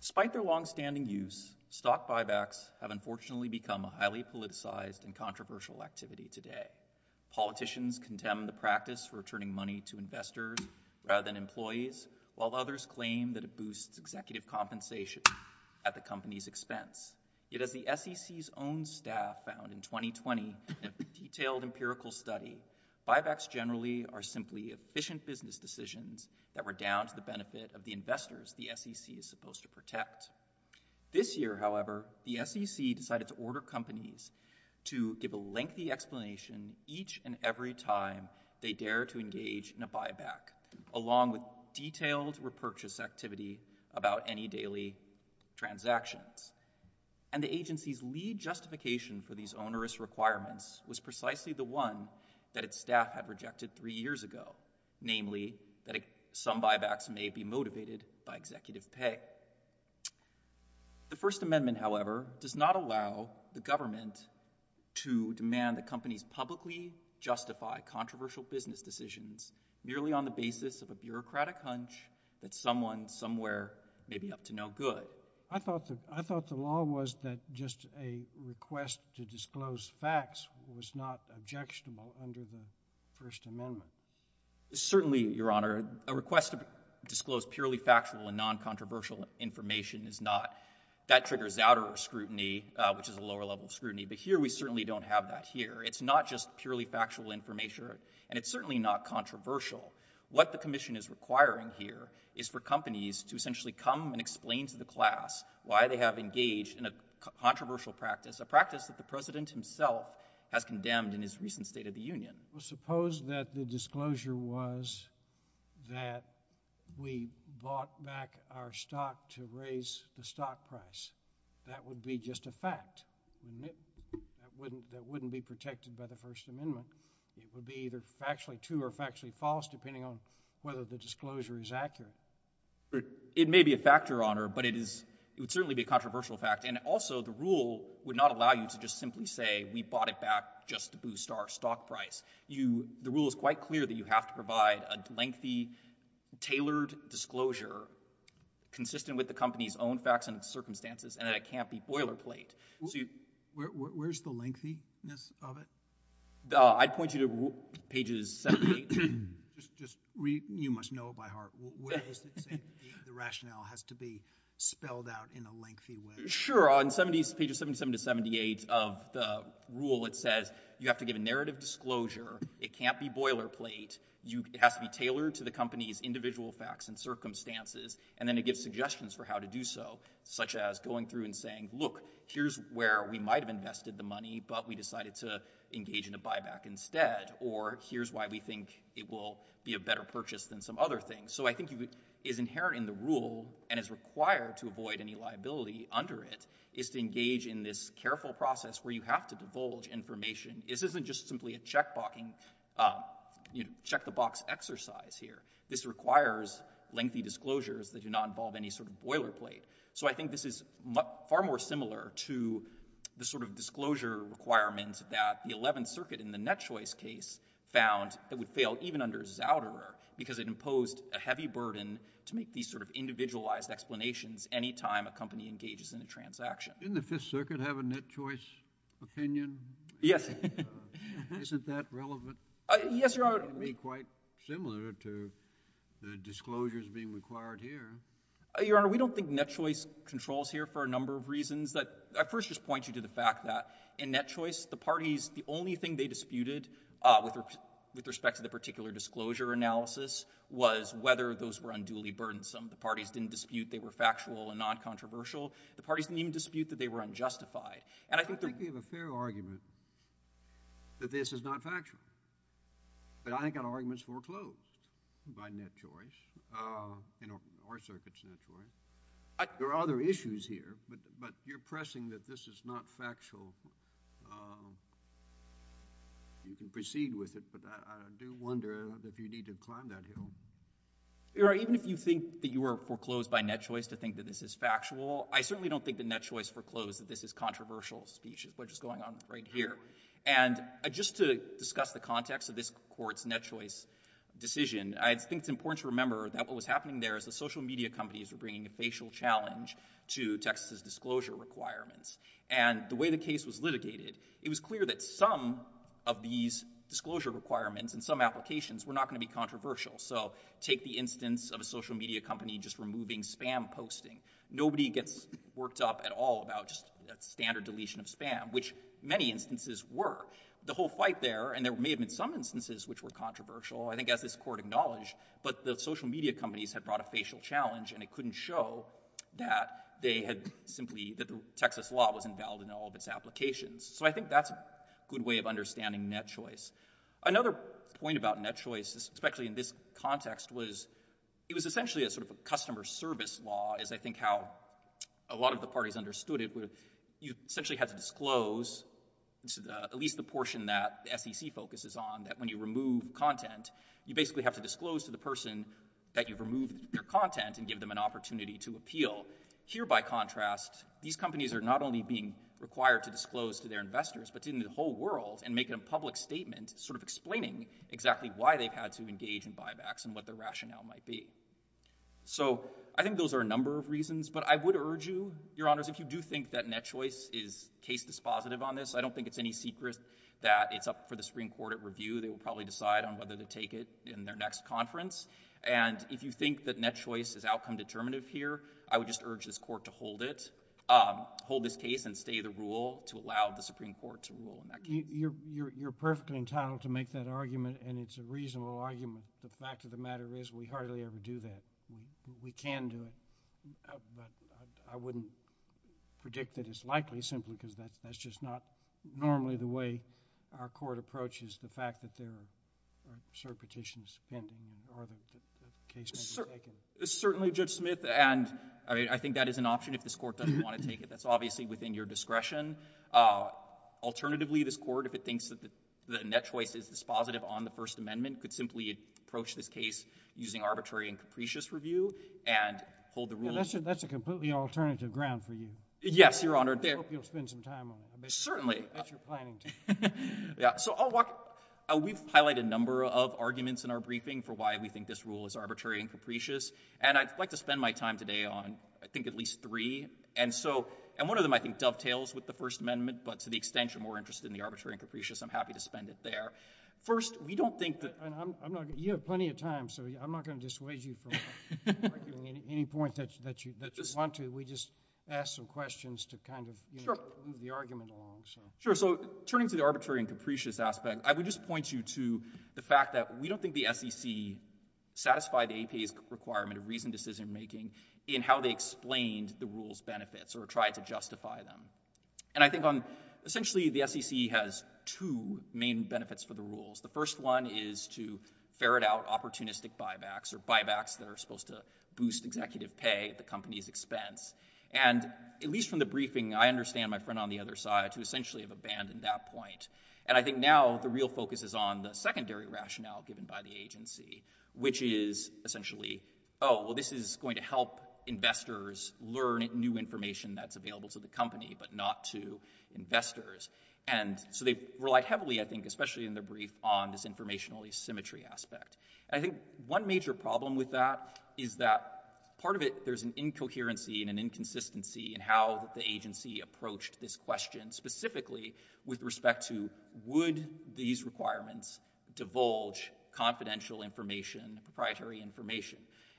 Despite their long-standing use, stock buybacks have unfortunately become a highly politicized and controversial activity today. Politicians condemn the practice of returning money to investors rather than employees, while others claim that it boosts executive compensation at the company's expense. Yet, as the SEC's own staff found in a 2020 detailed empirical study, buybacks generally are simply efficient business decisions that were down to the benefit of the investors the SEC is supposed to protect. This year, however, the SEC decided to order companies to give a lengthy explanation each and every time they dare to engage in a buyback, along with detailed repurchase activity about any daily transactions. And the agency's lead justification for these onerous requirements was precisely the one that its staff had rejected three years ago—namely, that some buybacks may be motivated by executive pay. The First Amendment, however, does not allow the government to demand that companies publicly justify controversial business decisions merely on the basis of a bureaucratic hunch that someone, somewhere, may be up to no good. I thought the law was that just a request to disclose facts was not objectionable under the First Amendment. Certainly, Your Honor. A request to disclose purely factual and non-controversial information is not. That triggers outer scrutiny, which is a lower level of scrutiny, but here we certainly don't have that here. It's not just purely factual information, and it's certainly not controversial. What the Commission is requiring here is for companies to essentially come and explain to the class why they have engaged in a controversial practice, a practice that the President himself has condemned in his recent State of the Union. Well, suppose that the disclosure was that we bought back our stock to raise the stock price. That would be just a fact. That wouldn't be protected by the First Amendment. It would be either factually true or factually false, depending on whether the disclosure is accurate. It may be a factor, Your Honor, but it would certainly be a controversial fact, and also the rule would not allow you to just simply say we bought it back just to boost our stock price. The rule is quite clear that you have to provide a lengthy, tailored disclosure consistent with the company's own facts and circumstances, and that it can't be boilerplate. Where's the lengthiness of it? I'd point you to pages 78. You must know it by heart. Where does it say the rationale has to be spelled out in a lengthy way? Sure. On pages 77 to 78 of the rule, it says you have to give a narrative disclosure. It can't be boilerplate. It has to be tailored to the company's individual facts and circumstances, and then it gives suggestions for how to do so, such as going through and saying, look, here's where we might have invested the money, but we decided to engage in a buyback instead, or here's why we think it will be a better purchase than some other thing. So I think what is inherent in the rule and is required to avoid any liability under it is to engage in this careful process where you have to divulge information. This isn't just simply a check the box exercise here. This requires lengthy disclosures that do not involve any sort of boilerplate. So I think this is far more similar to the sort of disclosure requirements that the Eleventh Circuit in the net choice case found that would fail even under Zouderer, because it imposed a heavy burden to make these sort of individualized explanations any time a company engages in a transaction. Didn't the Fifth Circuit have a net choice opinion? Yes. Isn't that relevant? Yes, Your Honor. It would be quite similar to the disclosures being required here. Your Honor, we don't think net choice controls here for a number of reasons. I first just point you to the fact that in net choice, the parties, the only thing they disputed with respect to the particular disclosure analysis was whether those were unduly burdensome. The parties didn't dispute they were factual and non-controversial. The parties didn't even dispute that they were unjustified. I think you have a fair argument that this is not factual. But I ain't got arguments foreclosed by net choice, in our circuit's net choice. There are other issues here, but you're pressing that this is not factual. You can proceed with it, but I do wonder if you need to climb that hill. Your Honor, even if you think that you were foreclosed by net choice to think that this is factual, I certainly don't think that net choice foreclosed that this is controversial speech, which is going on right here. And just to discuss the context of this court's net choice decision, I think it's important to remember that what was happening there is the social media companies were bringing a facial challenge to Texas' disclosure requirements. And the way the case was litigated, it was clear that some of these disclosure requirements and some applications were not going to be controversial. So take the instance of a social media company just removing spam posting. Nobody gets worked up at all about just standard deletion of spam, which many instances were. The whole fight there, and there may have been some instances which were controversial, I think as this court acknowledged, but the social media companies had brought a facial challenge and it couldn't show that they had simply, that the Texas law wasn't valid in all of its applications. So I think that's a good way of understanding net choice. Another point about net choice, especially in this context, was it was essentially a sort of a customer service law, as I think how a lot of the parties understood it, where you essentially had to disclose at least the portion that SEC focuses on, that when you remove content, you basically have to disclose to the person that you've removed their content and give them an opportunity to appeal. Here by contrast, these companies are not only being required to disclose to their investors but to the whole world and make it a public statement, sort of explaining exactly why they've had to engage in buybacks and what their rationale might be. So I think those are a number of reasons, but I would urge you, Your Honors, if you do think that net choice is case dispositive on this, I don't think it's any secret that it's up for the Supreme Court at review. They will probably decide on whether to take it in their next conference. And if you think that net choice is outcome determinative here, I would just urge this Court to hold it, um, hold this case and stay the rule to allow the Supreme Court to rule on that case. You're, you're, you're perfectly entitled to make that argument and it's a reasonable argument. The fact of the matter is we hardly ever do that. We can do it, but I wouldn't predict that it's likely simply because that's, that's just not normally the way our court approaches the fact that there are cert petitions pending or the case may be taken. Certainly, Judge Smith. And I mean, I think that is an option if this Court doesn't want to take it. That's obviously within your discretion. Uh, alternatively, this Court, if it thinks that the net choice is dispositive on the First Amendment, could simply approach this case using arbitrary and capricious review and hold the rules. That's a completely alternative ground for you. Yes, Your Honor. I hope you'll spend some time on it. Certainly. That's your planning team. Yeah. So I'll walk, we've highlighted a number of arguments in our briefing for why we think this rule is arbitrary and capricious. And I'd like to spend my time today on, I think, at least three. And so, and one of them, I think, dovetails with the First Amendment, but to the extent you're more interested in the arbitrary and capricious, I'm happy to spend it there. First we don't think that... I'm not, you have plenty of time, so I'm not going to dissuade you from arguing any point that you want to. We just asked some questions to kind of move the argument along. Sure. So turning to the arbitrary and capricious aspect, I would just point you to the fact that we don't think the SEC satisfied the APA's requirement of reasoned decision-making in how they explained the rule's benefits or tried to justify them. And I think on, essentially, the SEC has two main benefits for the rules. The first one is to ferret out opportunistic buybacks or buybacks that are supposed to boost executive pay at the company's expense. And at least from the briefing, I understand my friend on the other side to essentially have abandoned that point. And I think now the real focus is on the secondary rationale given by the agency, which is essentially, oh, well, this is going to help investors learn new information that's available to the company, but not to investors. And so they relied heavily, I think, especially in the brief, on this informational asymmetry aspect. And I think one major problem with that is that part of it, there's an incoherency and an inconsistency in how the agency approached this question, specifically with respect to would these requirements divulge confidential information, proprietary information.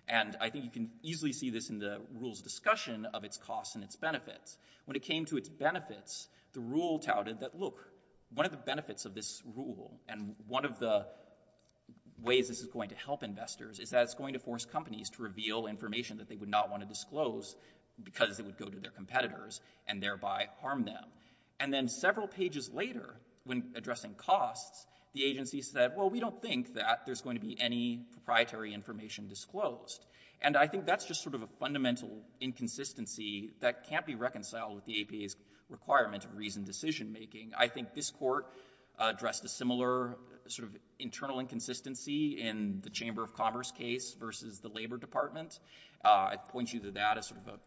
And I think you can easily see this in the rule's discussion of its costs and its benefits. When it came to its benefits, the rule touted that, look, one of the benefits of this rule and one of the ways this is going to help investors is that it's going to force companies to reveal information that they would not want to disclose because it would go to their competitors and thereby harm them. And then several pages later, when addressing costs, the agency said, well, we don't think that there's going to be any proprietary information disclosed. And I think that's just sort of a fundamental inconsistency that can't be reconciled with the APA's requirement of reasoned decision making. I think this court addressed a similar sort of internal inconsistency in the Chamber of Commerce case versus the Labor Department. I point you to that as sort of an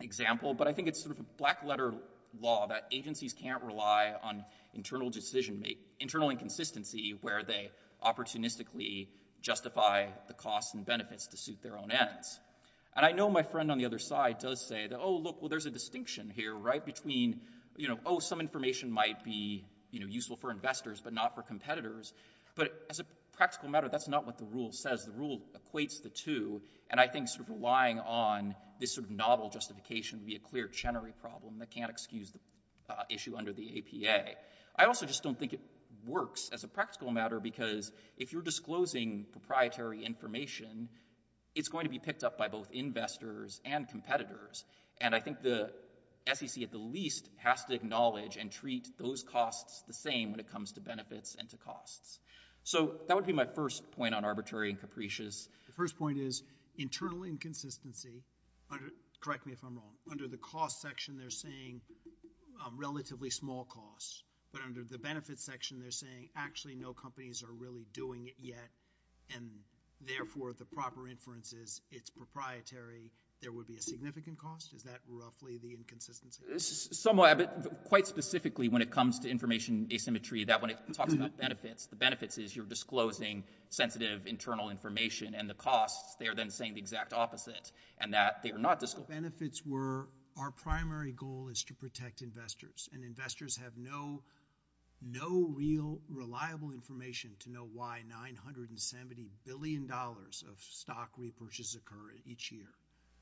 example. But I think it's sort of a black letter law that agencies can't rely on internal decision make, internal inconsistency where they opportunistically justify the costs and benefits to suit their own ends. And I know my friend on the other side does say that, oh, look, well, there's a distinction here, right, between, you know, oh, some information might be, you know, useful for investors but not for competitors. But as a practical matter, that's not what the rule says. The rule equates the two. And I think sort of relying on this sort of novel justification would be a clear Chenery problem that can't excuse the issue under the APA. I also just don't think it works as a practical matter because if you're disclosing proprietary information, it's going to be picked up by both investors and competitors. And I think the SEC at the least has to acknowledge and treat those costs the same when it comes to benefits and to costs. So that would be my first point on arbitrary and capricious. The first point is internal inconsistency. Correct me if I'm wrong. Under the cost section, they're saying relatively small costs. But under the benefits section, they're saying actually no companies are really doing it yet and therefore the proper inference is it's proprietary. There would be a significant cost. Is that roughly the inconsistency? Quite specifically when it comes to information asymmetry, that when it talks about benefits, the benefits is you're disclosing sensitive internal information and the costs, they are then saying the exact opposite and that they are not disclosing. Benefits were, our primary goal is to protect investors and investors have no real reliable information to know why $970 billion of stock repurchase occur each year.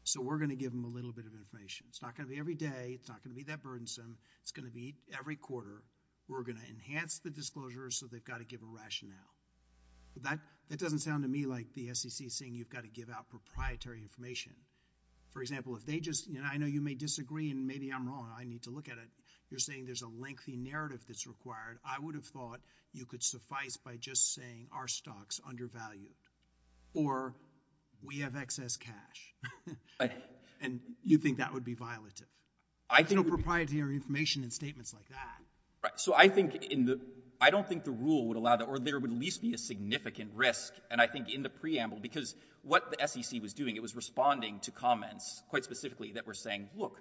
So we're going to give them a little bit of information. It's not going to be every day, it's not going to be that burdensome, it's going to be every quarter. We're going to enhance the disclosures so they've got to give a rationale. That doesn't sound to me like the SEC is saying you've got to give out proprietary information. For example, if they just, I know you may disagree and maybe I'm wrong, I need to look at it. You're saying there's a lengthy narrative that's required. I would have thought you could suffice by just saying our stock's undervalued. Or we have excess cash. And you think that would be violative. There's no proprietary information in statements like that. So I don't think the rule would allow that or there would at least be a significant risk. And I think in the preamble, because what the SEC was doing, it was responding to comments quite specifically that were saying, look,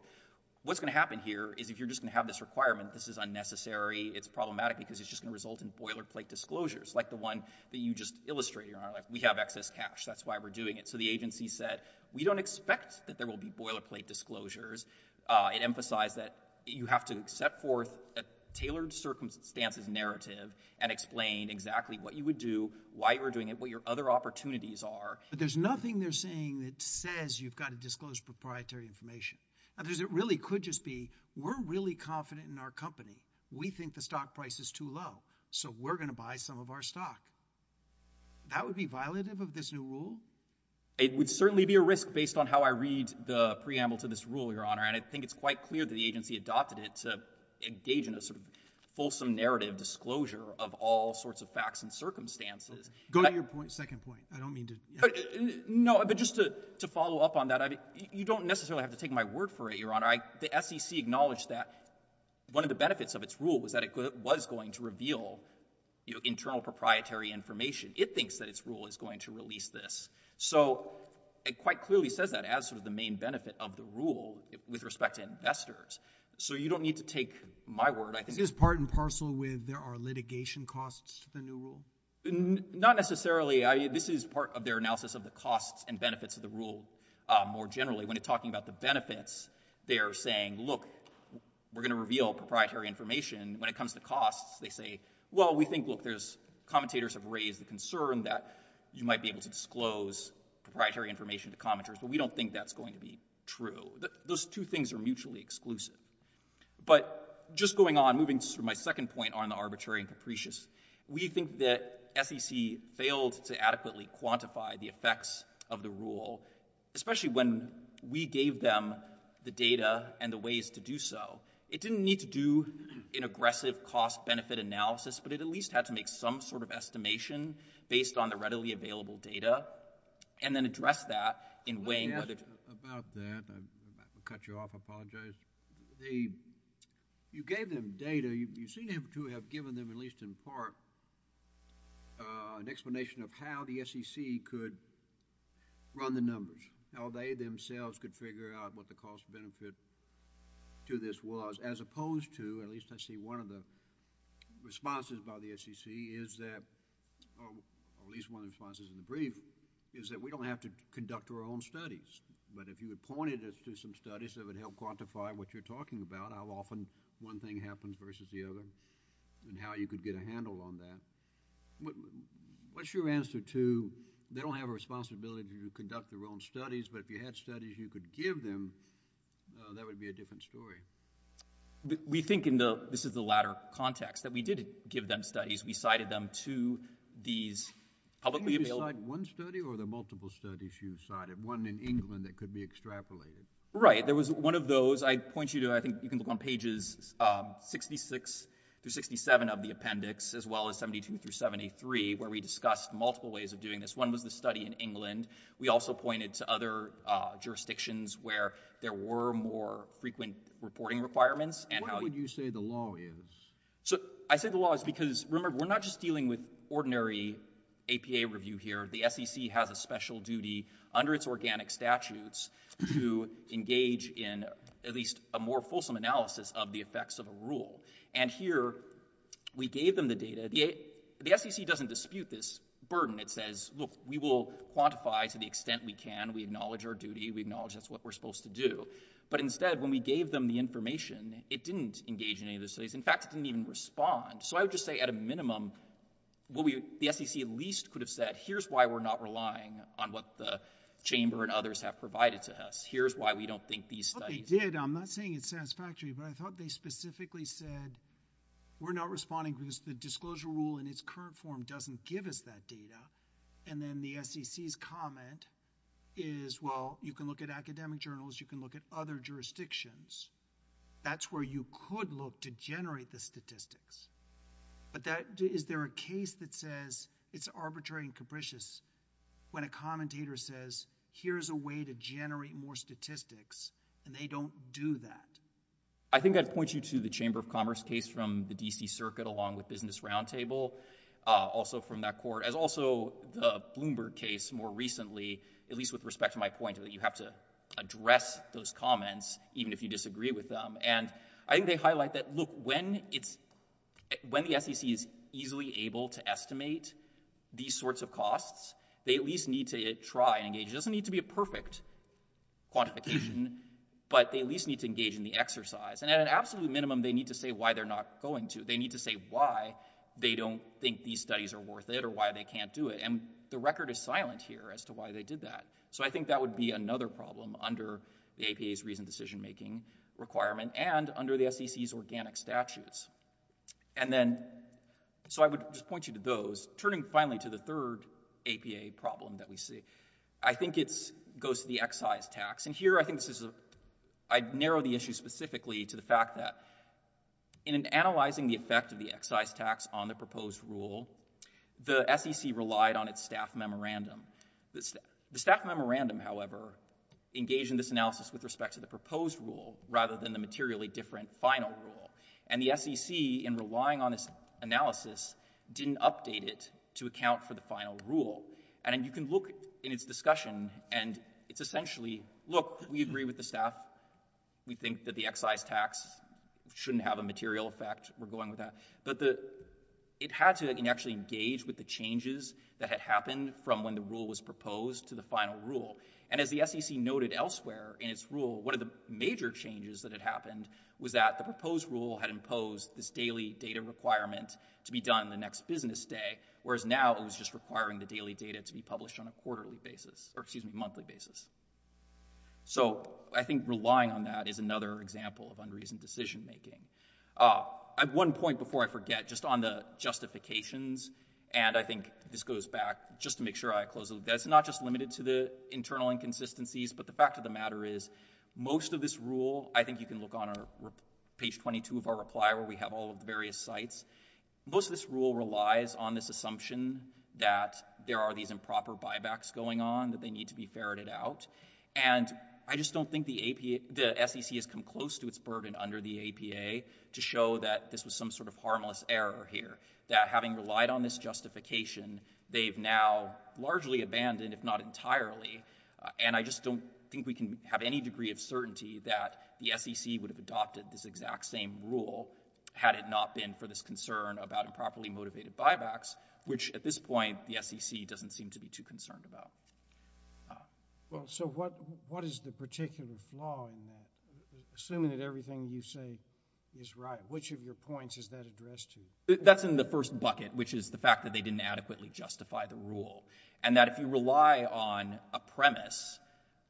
what's going to happen here is if you're just going to have this requirement, this is unnecessary, it's problematic because it's just going to result in boilerplate disclosures like the one that you just illustrated. We have excess cash, that's why we're doing it. So the agency said, we don't expect that there will be boilerplate disclosures. It emphasized that you have to set forth a tailored circumstances narrative and explain exactly what you would do, why you're doing it, what your other opportunities are. But there's nothing they're saying that says you've got to disclose proprietary information. It really could just be, we're really confident in our company. We think the stock price is too low. So we're going to buy some of our stock. That would be violative of this new rule? It would certainly be a risk based on how I read the preamble to this rule, Your Honor. And I think it's quite clear that the agency adopted it to engage in a sort of fulsome narrative disclosure of all sorts of facts and circumstances. Go to your second point. I don't mean to— No, but just to follow up on that, you don't necessarily have to take my word for it, Your The SEC acknowledged that one of the benefits of its rule was that it was going to reveal internal proprietary information. It thinks that its rule is going to release this. So it quite clearly says that as sort of the main benefit of the rule with respect to investors. So you don't need to take my word, I think— Is this part and parcel with there are litigation costs to the new rule? Not necessarily. This is part of their analysis of the costs and benefits of the rule more generally. When talking about the benefits, they are saying, look, we're going to reveal proprietary information. When it comes to costs, they say, well, we think, look, commentators have raised the concern that you might be able to disclose proprietary information to commenters, but we don't think that's going to be true. Those two things are mutually exclusive. But just going on, moving to my second point on the arbitrary and capricious, we think that SEC failed to adequately quantify the effects of the rule, especially when we gave them the data and the ways to do so. It didn't need to do an aggressive cost-benefit analysis, but it at least had to make some sort of estimation based on the readily available data, and then address that in weighing whether— About that, I'm about to cut you off, I apologize. You gave them data. You seem to have given them, at least in part, an explanation of how the SEC could run the process, how they themselves could figure out what the cost-benefit to this was, as opposed to, at least I see one of the responses by the SEC is that, or at least one of the responses in the brief, is that we don't have to conduct our own studies. But if you had pointed us to some studies that would help quantify what you're talking about, how often one thing happens versus the other, and how you could get a handle on that, what's your answer to, they don't have a responsibility to conduct their own studies, but if you had studies you could give them, that would be a different story. We think in the, this is the latter context, that we did give them studies, we cited them to these publicly available— Didn't you cite one study, or were there multiple studies you cited, one in England that could be extrapolated? Right, there was one of those, I'd point you to, I think you can look on pages 66-67 of the appendix, as well as 72-73, where we discussed multiple ways of doing this. One was the study in England. We also pointed to other jurisdictions where there were more frequent reporting requirements, and how— Why would you say the law is? So, I say the law is because, remember, we're not just dealing with ordinary APA review here. The SEC has a special duty, under its organic statutes, to engage in at least a more fulsome analysis of the effects of a rule. And here, we gave them the data, the SEC doesn't dispute this burden. It says, look, we will quantify to the extent we can, we acknowledge our duty, we acknowledge that's what we're supposed to do. But instead, when we gave them the information, it didn't engage in any of those studies. In fact, it didn't even respond. So I would just say, at a minimum, the SEC at least could have said, here's why we're not relying on what the Chamber and others have provided to us. Here's why we don't think these studies— I thought they did. I'm not saying it's satisfactory, but I thought they specifically said, we're not responding because the disclosure rule in its current form doesn't give us that data. And then the SEC's comment is, well, you can look at academic journals, you can look at other jurisdictions. That's where you could look to generate the statistics. But is there a case that says it's arbitrary and capricious when a commentator says, here's a way to generate more statistics, and they don't do that? I think I'd point you to the Chamber of Commerce case from the D.C. Circuit along with Business Roundtable, also from that court, as also the Bloomberg case more recently, at least with respect to my point that you have to address those comments even if you disagree with them. And I think they highlight that, look, when the SEC is easily able to estimate these sorts of costs, they at least need to try and engage—it doesn't need to be a perfect quantification, but they at least need to engage in the exercise. And at an absolute minimum, they need to say why they're not going to. They need to say why they don't think these studies are worth it or why they can't do it. And the record is silent here as to why they did that. So I think that would be another problem under the APA's reasoned decision-making requirement and under the SEC's organic statutes. And then—so I would just point you to those. Turning finally to the third APA problem that we see, I think it goes to the excise tax. And here I think this is—I'd narrow the issue specifically to the fact that in analyzing the effect of the excise tax on the proposed rule, the SEC relied on its staff memorandum. The staff memorandum, however, engaged in this analysis with respect to the proposed rule rather than the materially different final rule. And the SEC, in relying on this analysis, didn't update it to account for the final rule. And you can look in its discussion, and it's essentially, look, we agree with the staff. We think that the excise tax shouldn't have a material effect. We're going with that. But it had to actually engage with the changes that had happened from when the rule was proposed to the final rule. And as the SEC noted elsewhere in its rule, one of the major changes that had happened was that the proposed rule had imposed this daily data requirement to be done the next business day, whereas now it was just requiring the daily data to be published on a quarterly basis—or, excuse me, monthly basis. So I think relying on that is another example of unreasoned decision-making. At one point, before I forget, just on the justifications, and I think this goes back just to make sure I close—it's not just limited to the internal inconsistencies, but the fact of the matter is most of this rule—I think you can look on page 22 of our reply where we have all of the various sites—most of this rule relies on this assumption that there are these improper buybacks going on, that they need to be ferreted out, and I just don't think the SEC has come close to its burden under the APA to show that this was some sort of harmless error here, that having relied on this justification, they've now largely abandoned, if not entirely, and I just don't think we can have any degree of the SEC would have adopted this exact same rule had it not been for this concern about improperly motivated buybacks, which, at this point, the SEC doesn't seem to be too concerned about. Well, so what is the particular flaw in that? Assuming that everything you say is right, which of your points is that addressed to? That's in the first bucket, which is the fact that they didn't adequately justify the rule, and that if you rely on a premise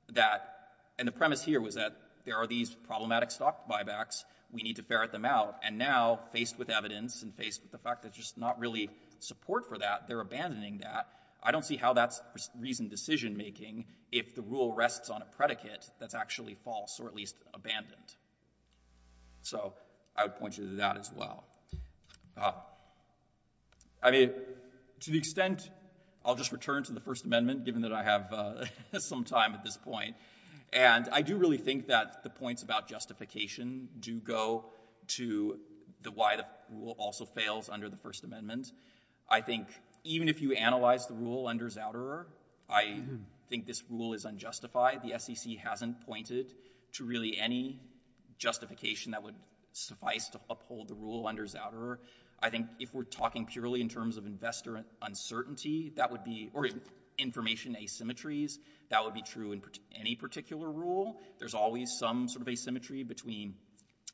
that—and the premise here was that there are these problematic stock buybacks, we need to ferret them out, and now, faced with evidence and faced with the fact that there's just not really support for that, they're abandoning that. I don't see how that's reasoned decision-making if the rule rests on a predicate that's actually false or at least abandoned. So I would point you to that as well. I mean, to the extent—I'll just return to the First Amendment, given that I have some time at this point, and I do really think that the points about justification do go to why the rule also fails under the First Amendment. I think even if you analyze the rule under Zouderer, I think this rule is unjustified. The SEC hasn't pointed to really any justification that would suffice to uphold the rule under Zouderer. I think if we're talking purely in terms of investor uncertainty, that would be—or information asymmetries, that would be true in any particular rule. There's always some sort of asymmetry between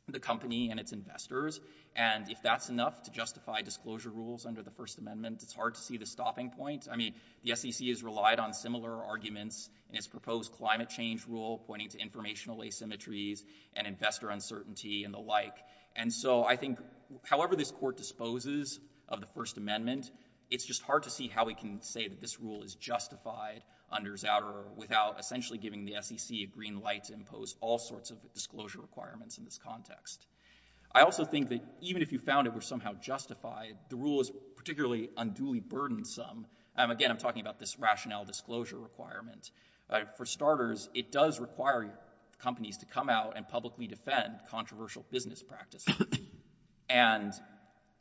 the company and its investors, and if that's enough to justify disclosure rules under the First Amendment, it's hard to see the stopping point. I mean, the SEC has relied on similar arguments in its proposed climate change rule pointing to informational asymmetries and investor uncertainty and the like. And so I think however this Court disposes of the First Amendment, it's just hard to see how we can say that this rule is justified under Zouderer without essentially giving the SEC a green light to impose all sorts of disclosure requirements in this context. I also think that even if you found it were somehow justified, the rule is particularly unduly burdensome. Again, I'm talking about this rationale disclosure requirement. For starters, it does require companies to come out and publicly defend controversial business practices, and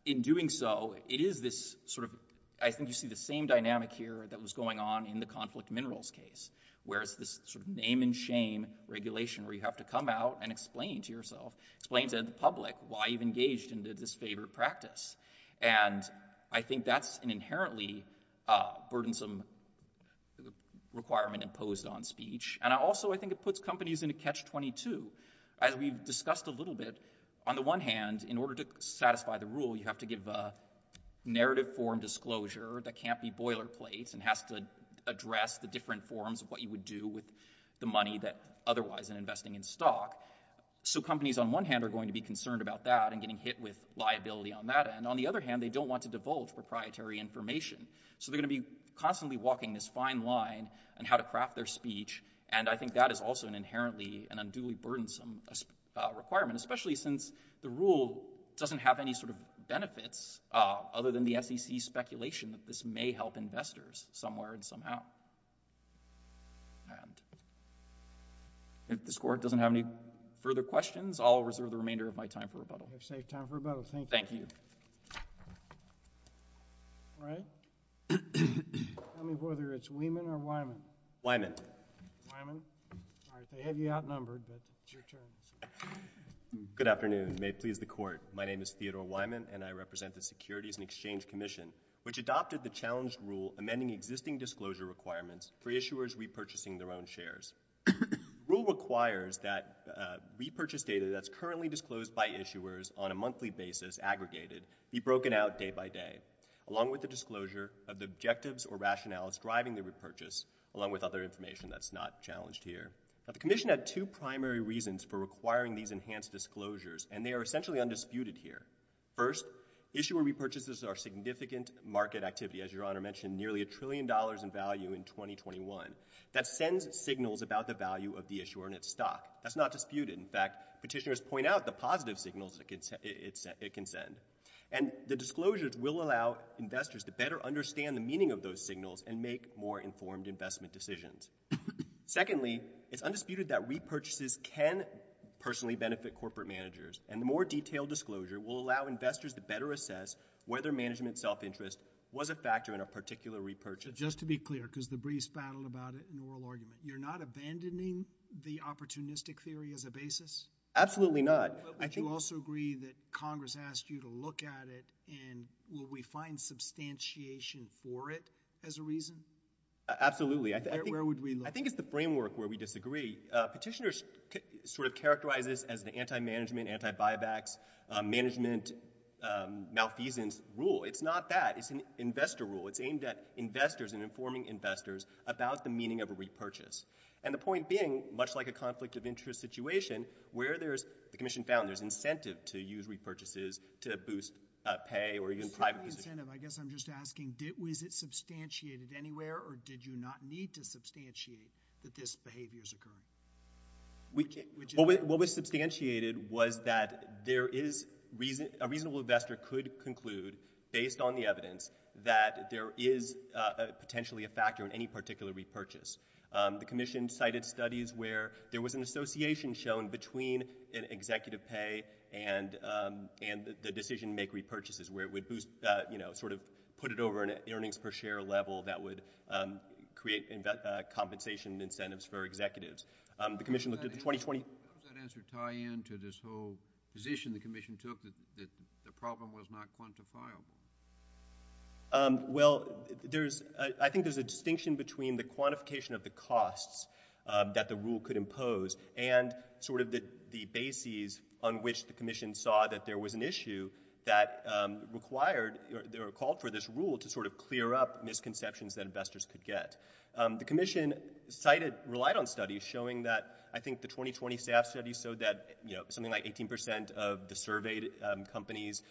in doing so, it is this sort of—I think you see the same dynamic here that was going on in the conflict minerals case, where it's this sort of name-and-shame regulation where you have to come out and explain to yourself, explain to the public why you've engaged in this favorite practice. And I think that's an inherently burdensome requirement imposed on speech, and I also think it puts companies in a catch-22. As we've discussed a little bit, on the one hand, in order to satisfy the rule, you have to give a narrative form disclosure that can't be boilerplate and has to address the different forms of what you would do with the money that—otherwise in investing in stock. So companies on one hand are going to be concerned about that and getting hit with liability on that end. On the other hand, they don't want to divulge proprietary information. So they're going to be constantly walking this fine line on how to craft their speech, and I think that is also an inherently—an unduly burdensome requirement, especially since the rule doesn't have any sort of benefits other than the SEC's speculation that this may help investors somewhere and somehow. And if this Court doesn't have any further questions, I'll reserve the remainder of my time for rebuttal. We have safe time for rebuttal. Thank you. Thank you. All right. Tell me whether it's Wieman or Weyman. Weyman. All right. They have you outnumbered, but it's your turn. Good afternoon. May it please the Court, my name is Theodore Weyman, and I represent the Securities and Exchange Commission, which adopted the challenge rule amending existing disclosure requirements for issuers repurchasing their own shares. Rule requires that repurchase data that's currently disclosed by issuers on a monthly basis, aggregated, be broken out day by day, along with the disclosure of the objectives or rationales driving the repurchase, along with other information that's not challenged here. Now, the Commission had two primary reasons for requiring these enhanced disclosures, and they are essentially undisputed here. First, issuer repurchases are significant market activity, as Your Honor mentioned, nearly a trillion dollars in value in 2021. That sends signals about the value of the issuer and its stock. That's not disputed. In fact, petitioners point out the positive signals it can send. And the disclosures will allow investors to better understand the meaning of those signals and make more informed investment decisions. Secondly, it's undisputed that repurchases can personally benefit corporate managers, and the more detailed disclosure will allow investors to better assess whether management self-interest was a factor in a particular repurchase. Just to be clear, because the briefs battle about it in oral argument, you're not abandoning the opportunistic theory as a basis? Absolutely not. But would you also agree that Congress asked you to look at it, and will we find substantiation for it as a reason? Absolutely. Where would we look? I think it's the framework where we disagree. Petitioners sort of characterize this as the anti-management, anti-buybacks, management malfeasance rule. It's not that. It's an investor rule. It's aimed at investors and informing investors about the meaning of a repurchase. The point being, much like a conflict of interest situation, where there's incentive to use repurchases to boost pay or even private position. I guess I'm just asking, was it substantiated anywhere, or did you not need to substantiate that this behavior is occurring? What was substantiated was that a reasonable investor could conclude, based on the evidence, that there is potentially a factor in any particular repurchase. The commission cited studies where there was an association shown between an executive pay and the decision to make repurchases, where it would boost, you know, sort of put it over an earnings per share level that would create compensation incentives for executives. The commission looked at the 2020- How does that answer tie in to this whole position the commission took, that the problem was not quantifiable? Well, there's, I think there's a distinction between the quantification of the costs that the rule could impose and sort of the bases on which the commission saw that there was an issue that required, or called for this rule to sort of clear up misconceptions that investors could get. The commission cited, relied on studies showing that, I think the 2020 SAF study showed that, you know, something like 18% of the surveyed companies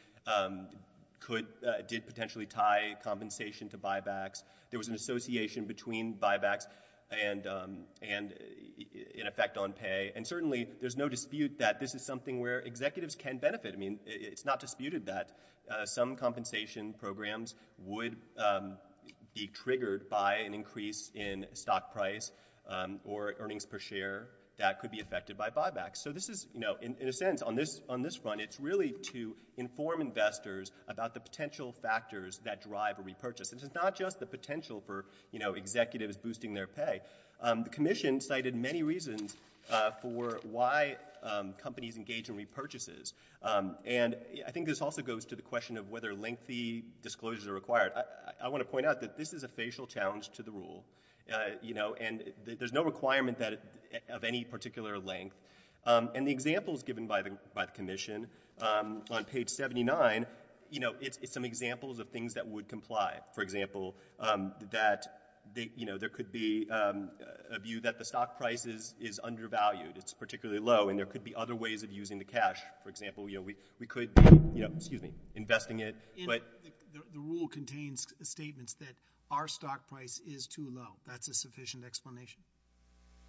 could, did potentially tie compensation to buybacks. There was an association between buybacks and an effect on pay. And certainly, there's no dispute that this is something where executives can benefit. I mean, it's not disputed that some compensation programs would be triggered by an increase in stock price or earnings per share that could be affected by buybacks. So this is, you know, in a sense, on this front, it's really to inform investors about the potential factors that drive a repurchase. And it's not just the potential for, you know, executives boosting their pay. The commission cited many reasons for why companies engage in repurchases. And I think this also goes to the question of whether lengthy disclosures are required. I want to point out that this is a facial challenge to the rule, you know, and there's no requirement that, of any particular length. And the examples given by the commission, on page 79, you know, it's some examples of things that would comply. For example, that, you know, there could be a view that the stock price is undervalued. It's particularly low. And there could be other ways of using the cash. For example, you know, we could be, you know, excuse me, investing it, but— The rule contains statements that our stock price is too low. That's a sufficient explanation.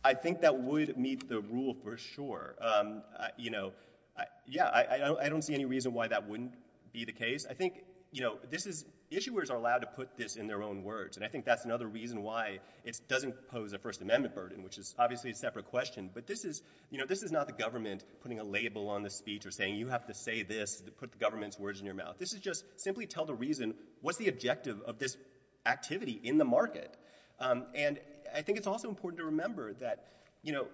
I think that would meet the rule for sure. You know, yeah, I don't see any reason why that wouldn't be the case. I think, you know, this is—issuers are allowed to put this in their own words, and I think that's another reason why it doesn't pose a First Amendment burden, which is obviously a separate question. But this is, you know, this is not the government putting a label on the speech or saying you have to say this to put the government's words in your mouth. This is just simply tell the reason, what's the objective of this activity in the market? And I think it's also important to remember that, you know,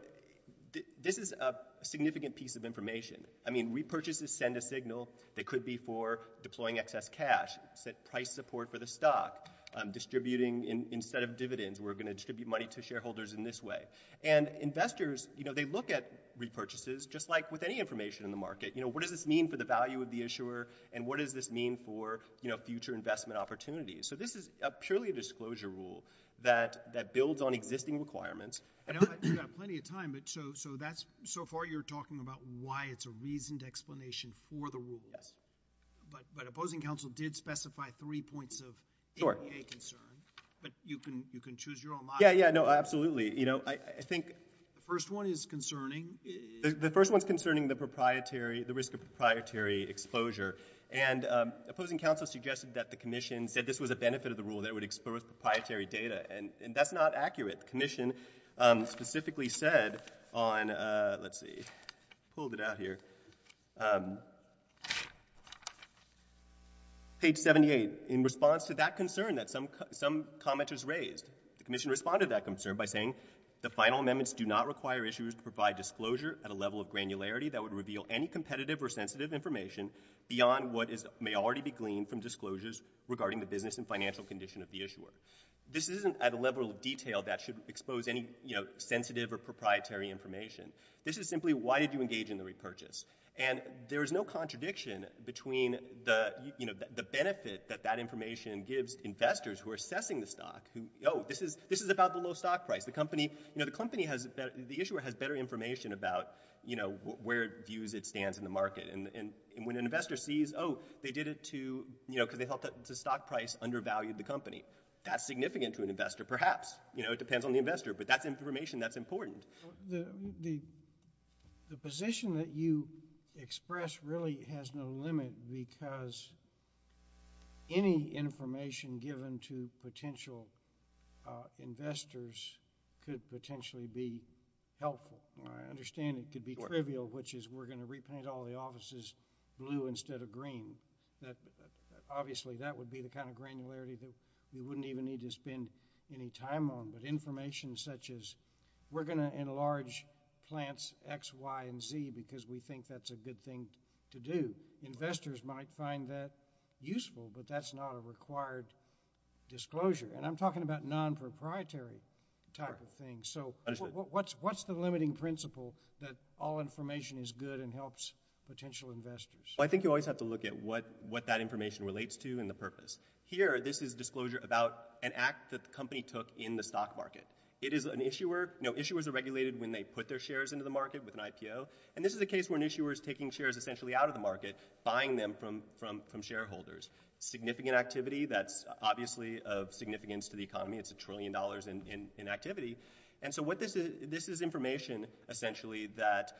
this is a significant piece of information. I mean, repurchases send a signal that could be for deploying excess cash, set price support for the stock, distributing instead of dividends, we're going to distribute money to shareholders in this way. And investors, you know, they look at repurchases just like with any information in the market. You know, what does this mean for the value of the issuer, and what does this mean for, you know, future investment opportunities? So this is purely a disclosure rule that builds on existing requirements. I know you've got plenty of time, but so that's—so far you're talking about why it's a reasoned explanation for the rules. Yes. But opposing counsel did specify three points of APA concern, but you can choose your own model. Yeah, yeah. No, absolutely. You know, I think— The first one is concerning. The first one is concerning the proprietary—the risk of proprietary exposure. And opposing counsel suggested that the commission said this was a benefit of the rule, that it would expose proprietary data. And that's not accurate. The commission specifically said on—let's see, pulled it out here—page 78. In response to that concern that some commenters raised, the commission responded to that concern by saying, the final amendments do not require issuers to provide disclosure at a level of granularity that would reveal any competitive or sensitive information beyond what may already be gleaned from disclosures regarding the business and financial condition of the issuer. This isn't at a level of detail that should expose any, you know, sensitive or proprietary information. This is simply why did you engage in the repurchase. And there is no contradiction between the, you know, the benefit that that information gives investors who are assessing the stock, who, oh, this is about the low stock price. The company—you know, the company has—the issuer has better information about, you know, where it views it stands in the market. And when an investor sees, oh, they did it to, you know, because they thought that the stock price undervalued the company, that's significant to an investor, perhaps. You know, it depends on the investor. But that's information that's important. But the position that you express really has no limit because any information given to potential investors could potentially be helpful, or I understand it could be trivial, which is we're going to repaint all the offices blue instead of green. Obviously that would be the kind of granularity that we wouldn't even need to spend any time on, but information such as we're going to enlarge plants X, Y, and Z because we think that's a good thing to do. Investors might find that useful, but that's not a required disclosure. And I'm talking about non-proprietary type of things. So what's the limiting principle that all information is good and helps potential investors? I think you always have to look at what that information relates to and the purpose. Here, this is disclosure about an act that the company took in the stock market. It is an issuer. You know, issuers are regulated when they put their shares into the market with an IPO. And this is a case where an issuer is taking shares essentially out of the market, buying them from shareholders. Significant activity that's obviously of significance to the economy. It's a trillion dollars in activity. And so this is information essentially that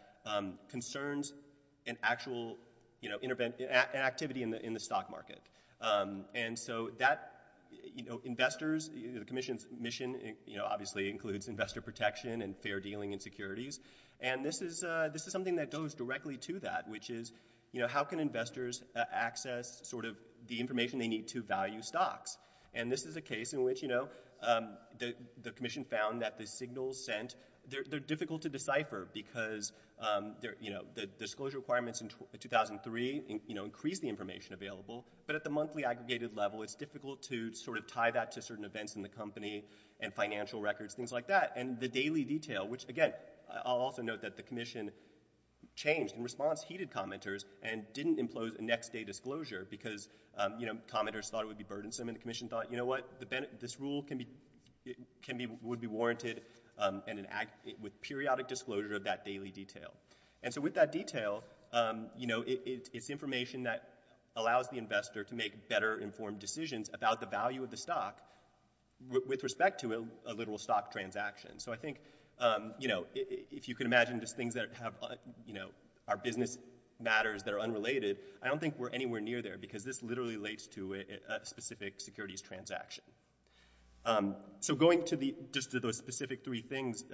concerns an actual activity in the stock market. And so that, you know, investors, the commission's mission, you know, obviously includes investor protection and fair dealing and securities. And this is something that goes directly to that, which is, you know, how can investors access sort of the information they need to value stocks? And this is a case in which, you know, the commission found that the signals sent, they're difficult to decipher because, you know, the disclosure requirements in 2003, you know, increased the information available, but at the monthly aggregated level, it's difficult to sort of tie that to certain events in the company and financial records, things like that. And the daily detail, which again, I'll also note that the commission changed in response, heeded commenters and didn't impose a next day disclosure because, you know, commenters thought it would be burdensome and the commission thought, you know what, this rule would be warranted with periodic disclosure of that daily detail. And so with that detail, you know, it's information that allows the investor to make better informed decisions about the value of the stock with respect to a literal stock transaction. So I think, you know, if you can imagine just things that have, you know, our business matters that are unrelated, I don't think we're anywhere near there because this literally relates to a specific securities transaction. So going to the, just to those specific three things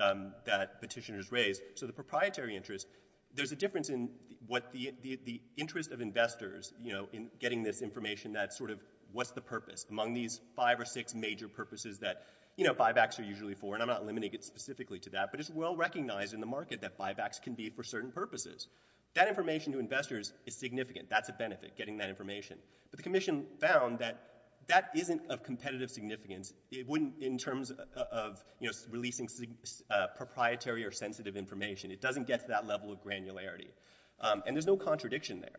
that petitioners raised. So the proprietary interest, there's a difference in what the interest of investors, you know, in getting this information that sort of what's the purpose among these five or six major purposes that, you know, buybacks are usually for, and I'm not limiting it specifically to that, but it's well-recognized in the market that buybacks can be for certain purposes. That information to investors is significant. That's a benefit, getting that information, but the commission found that that isn't of competitive significance. It wouldn't, in terms of, you know, releasing proprietary or sensitive information, it doesn't get to that level of granularity, and there's no contradiction there.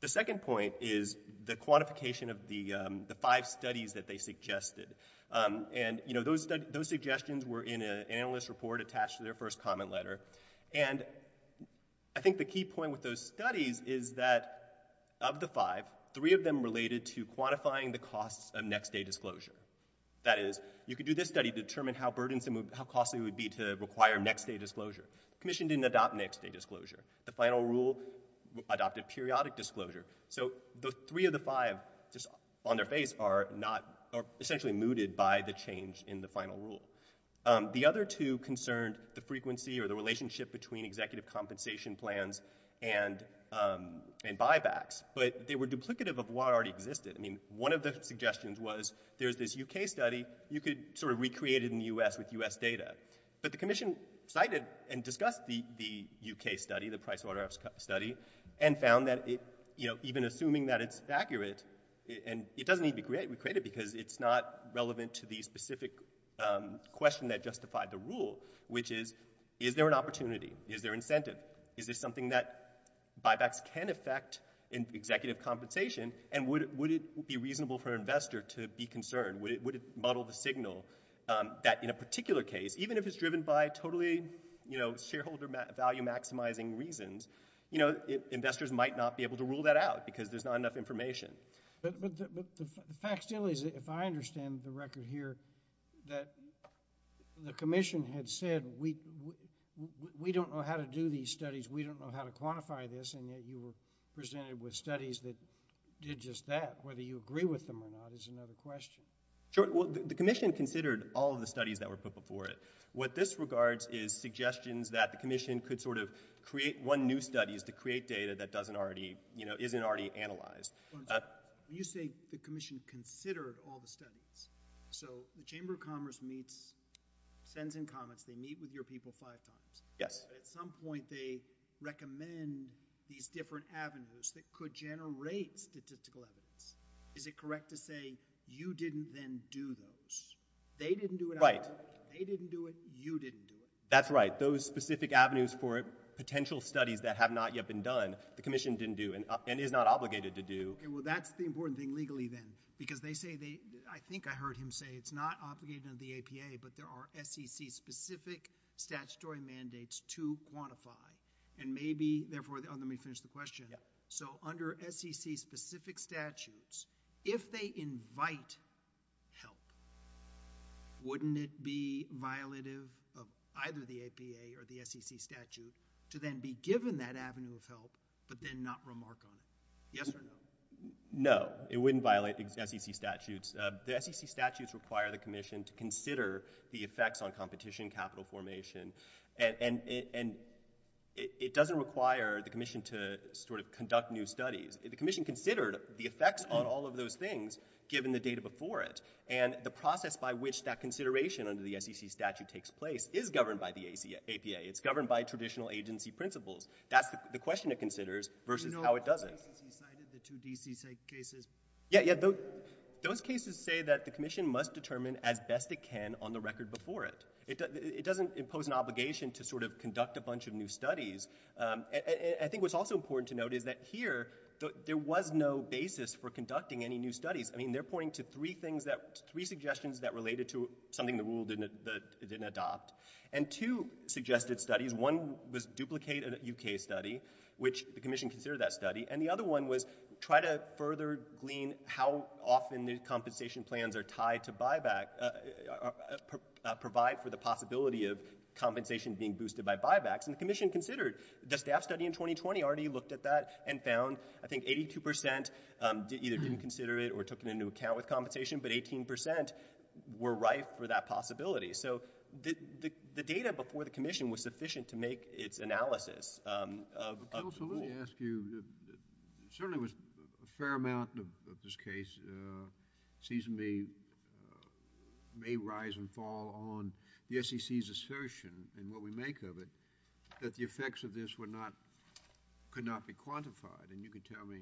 The second point is the quantification of the five studies that they suggested, and, you know, those suggestions were in an analyst report attached to their first comment letter, and I think the key point with those studies is that of the five, three of them related to quantifying the costs of next-day disclosure. That is, you could do this study to determine how burdensome, how costly it would be to require next-day disclosure. Commission didn't adopt next-day disclosure. The final rule adopted periodic disclosure. So the three of the five just on their face are not, are essentially mooted by the change in the final rule. The other two concerned the frequency or the relationship between executive compensation plans and buybacks, but they were duplicative of what already existed. I mean, one of the suggestions was there's this UK study, you could sort of recreate it in the US with US data, but the commission cited and discussed the UK study, the price order study, and found that it, you know, even assuming that it's accurate, and it doesn't need to be recreated because it's not relevant to the specific question that justified the rule, which is, is there an opportunity? Is there incentive? Is this something that buybacks can affect in executive compensation, and would it be reasonable for an investor to be concerned? Would it muddle the signal that in a particular case, even if it's driven by totally, you know, shareholder value-maximizing reasons, you know, investors might not be able to rule that out because there's not enough information. But the fact still is, if I understand the record here, that the commission had said, we don't know how to do these studies, we don't know how to quantify this, and yet you were presented with studies that did just that. Whether you agree with them or not is another question. Sure. Well, the commission considered all of the studies that were put before it. What this regards is suggestions that the commission could sort of create one new study is to create data that doesn't already, you know, isn't already analyzed. You say the commission considered all the studies. So the Chamber of Commerce meets, sends in comments, they meet with your people five times. Yes. At some point, they recommend these different avenues that could generate statistical evidence. Is it correct to say you didn't then do those? They didn't do it. Right. They didn't do it. You didn't do it. That's right. But those specific avenues for potential studies that have not yet been done, the commission didn't do and is not obligated to do. Okay. Well, that's the important thing legally then, because they say they, I think I heard him say it's not obligated under the APA, but there are SEC specific statutory mandates to quantify. And maybe, therefore, oh, let me finish the question. Yeah. So under SEC specific statutes, if they invite help, wouldn't it be violative of either the APA or the SEC statute to then be given that avenue of help, but then not remark on it? Yes or no? No. It wouldn't violate the SEC statutes. The SEC statutes require the commission to consider the effects on competition capital formation. And it doesn't require the commission to sort of conduct new studies. The commission considered the effects on all of those things, given the data before it. And the process by which that consideration under the SEC statute takes place is governed by the APA. It's governed by traditional agency principles. That's the question it considers versus how it doesn't. You know, the cases you cited, the two D.C. cases. Yeah, yeah. Those cases say that the commission must determine as best it can on the record before it. It doesn't impose an obligation to sort of conduct a bunch of new studies. I think what's also important to note is that here, there was no basis for conducting any new studies. I mean, they're pointing to three things that, three suggestions that related to something the rule didn't adopt. And two suggested studies, one was duplicate a U.K. study, which the commission considered that study. And the other one was try to further glean how often the compensation plans are tied to buyback, provide for the possibility of compensation being boosted by buybacks. And the commission considered the staff study in 2020 already looked at that and found, I think, 82 percent either didn't consider it or took it into account with compensation, but 18 percent were rife for that possibility. So, the data before the commission was sufficient to make its analysis of the rule. But counsel, let me ask you, certainly there was a fair amount of this case, season B, may rise and fall on the SEC's assertion and what we make of it, that the effects of this were not, could not be quantified. And you can tell me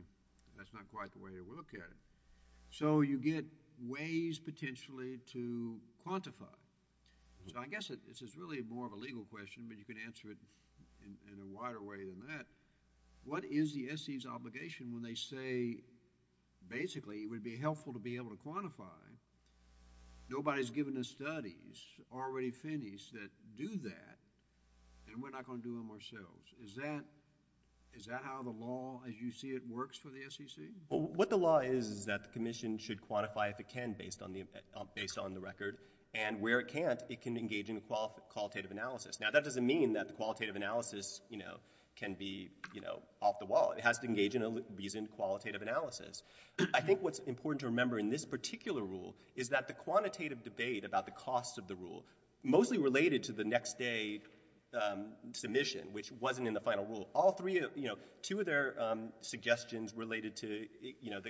that's not quite the way you look at it. So, you get ways potentially to quantify. So, I guess this is really more of a legal question, but you can answer it in a wider way than that. What is the SEC's obligation when they say, basically, it would be helpful to be able to quantify, nobody's given us studies already finished that do that, and we're not going to do them ourselves. Is that, is that how the law, as you see it, works for the SEC? Well, what the law is, is that the commission should quantify if it can, based on the record, and where it can't, it can engage in a qualitative analysis. Now, that doesn't mean that the qualitative analysis, you know, can be, you know, off the wall. It has to engage in a reasoned qualitative analysis. I think what's important to remember in this particular rule is that the quantitative debate about the cost of the rule, mostly related to the next day submission, which wasn't in the final rule. All three of, you know, two of their suggestions related to, you know,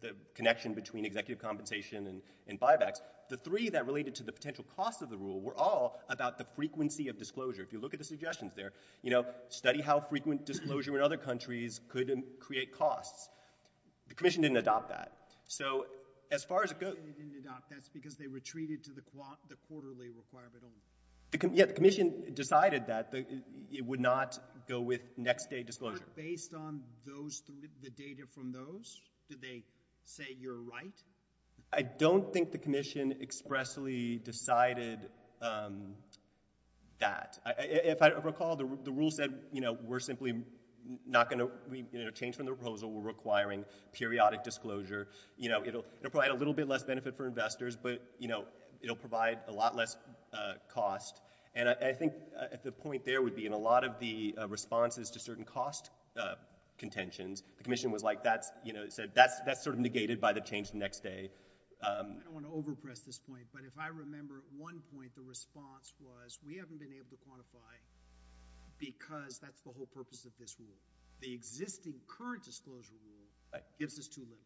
the connection between executive compensation and buybacks. The three that related to the potential cost of the rule were all about the frequency of If you look at the suggestions there, you know, study how frequent disclosure in other countries could create costs. The commission didn't adopt that. So as far as it goes— They didn't adopt that because they were treated to the quarterly requirement only. Yeah, the commission decided that it would not go with next day disclosure. Based on those, the data from those, do they say you're right? I don't think the commission expressly decided that. If I recall, the rule said, you know, we're simply not going to, you know, change from the proposal. We're requiring periodic disclosure. You know, it'll provide a little bit less benefit for investors, but, you know, it'll provide a lot less cost, and I think the point there would be in a lot of the responses to certain cost contentions, the commission was like, that's, you know, that's sort of negated by the change the next day. I don't want to overpress this point, but if I remember, at one point the response was, we haven't been able to quantify because that's the whole purpose of this rule. The existing current disclosure rule gives us too little.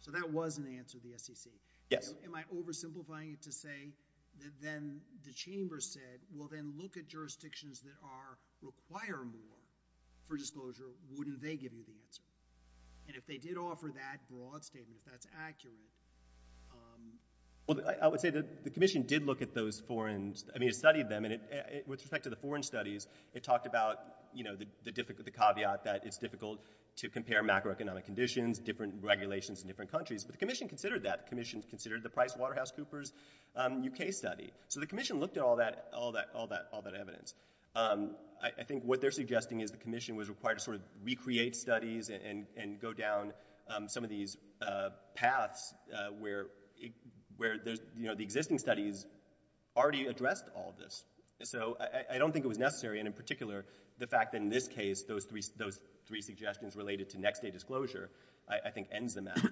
So that was an answer to the SEC. Yes. Am I oversimplifying it to say that then the chamber said, well, then look at jurisdictions that are, require more for disclosure, wouldn't they give you the answer? And if they did offer that broad statement, if that's accurate, um... Well, I would say that the commission did look at those foreign, I mean, it studied them, and it, with respect to the foreign studies, it talked about, you know, the difficult, the caveat that it's difficult to compare macroeconomic conditions, different regulations in different countries. But the commission considered that. The commission considered the PricewaterhouseCoopers UK study. So the commission looked at all that, all that, all that, all that evidence. I think what they're suggesting is the commission was required to sort of recreate studies and go down some of these paths where, where there's, you know, the existing studies already addressed all of this. So I don't think it was necessary, and in particular, the fact that in this case, those three, those three suggestions related to next day disclosure, I, I think ends the matter.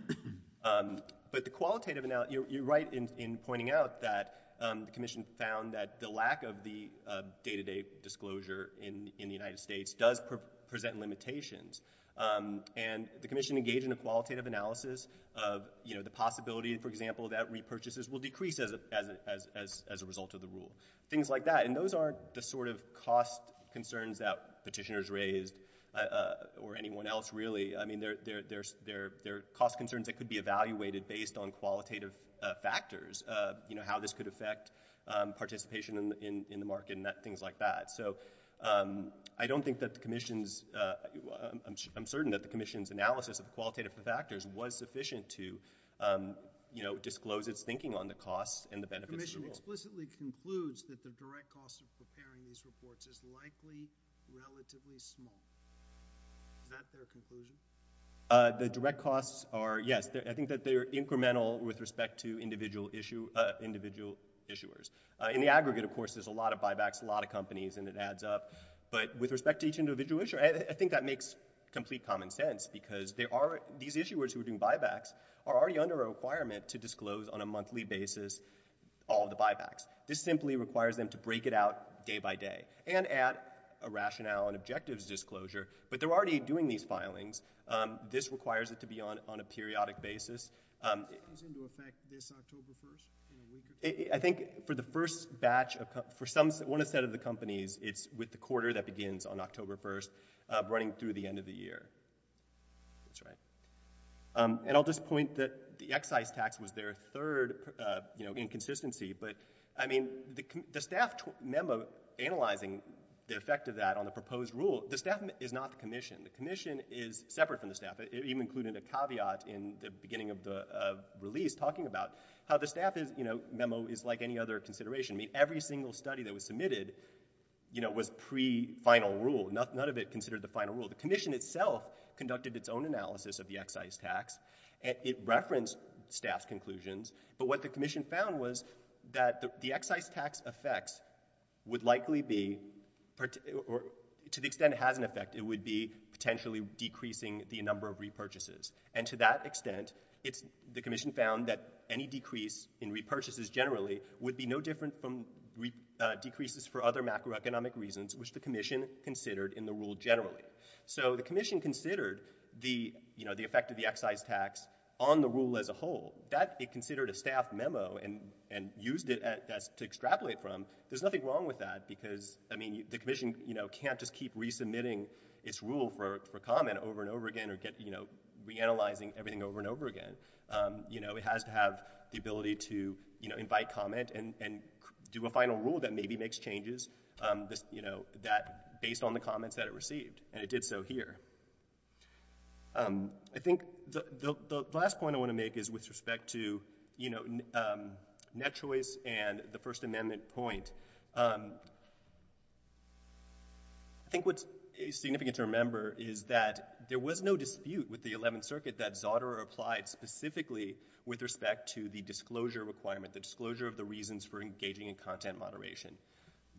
Um, but the qualitative, you're right in, in pointing out that, um, the commission found that the lack of the, uh, day-to-day disclosure in, in the United States does pre, present limitations. Um, and the commission engaged in a qualitative analysis of, you know, the possibility, for example, that repurchases will decrease as a, as a, as a result of the rule. Things like that. And those aren't the sort of cost concerns that petitioners raised, uh, uh, or anyone else really. I mean, there, there, there's, there, there are cost concerns that could be evaluated based on qualitative, uh, factors, uh, you know, how this could affect, um, participation in, in, in the market and that, things like that. So, um, I don't think that the commission's, uh, I'm sure, I'm certain that the commission's analysis of qualitative factors was sufficient to, um, you know, disclose its thinking on the costs and the benefits of the rule. The commission explicitly concludes that the direct cost of preparing these reports is likely relatively small. Is that their conclusion? Uh, the direct costs are, yes. They're, I think that they're incremental with respect to individual issue, uh, individual issuers. Uh, in the aggregate, of course, there's a lot of buybacks, a lot of companies, and it adds up. But with respect to each individual issuer, I, I, I think that makes complete common sense because there are, these issuers who are doing buybacks are already under a requirement to disclose on a monthly basis all of the buybacks. This simply requires them to break it out day by day and add a rationale and objectives disclosure. But they're already doing these filings. Um, this requires it to be on, on a periodic basis. Um. How's it going to affect this October 1st? I think for the first batch of, for some, one of the set of the companies, it's with the quarter that begins on October 1st, uh, running through the end of the year. That's right. Um, and I'll just point that the excise tax was their third, uh, you know, inconsistency. But I mean, the, the staff memo analyzing the effect of that on the proposed rule, the staff is not the commission. The commission is separate from the staff. It, it even included a caveat in the beginning of the, uh, release talking about how the staff is, you know, memo is like any other consideration. I mean, every single study that was submitted, you know, was pre-final rule. Noth, none of it considered the final rule. The commission itself conducted its own analysis of the excise tax and it referenced staff's But what the commission found was that the, the excise tax effects would likely be, or to the extent it has an effect, it would be potentially decreasing the number of repurchases. And to that extent, it's, the commission found that any decrease in repurchases generally would be no different from, uh, decreases for other macroeconomic reasons, which the So the commission considered the, you know, the effect of the excise tax on the rule as a whole. That it considered a staff memo and, and used it as to extrapolate from, there's nothing wrong with that because, I mean, the commission, you know, can't just keep resubmitting its rule for, for comment over and over again or get, you know, reanalyzing everything over and over again. Um, you know, it has to have the ability to, you know, invite comment and, and do a final rule that maybe makes changes, um, this, you know, that based on the comments that it received. And it did so here. Um, I think the, the, the last point I want to make is with respect to, you know, um, net choice and the First Amendment point. Um, I think what's significant to remember is that there was no dispute with the Eleventh Circuit that Zotera applied specifically with respect to the disclosure requirement, the disclosure of the reasons for engaging in content moderation.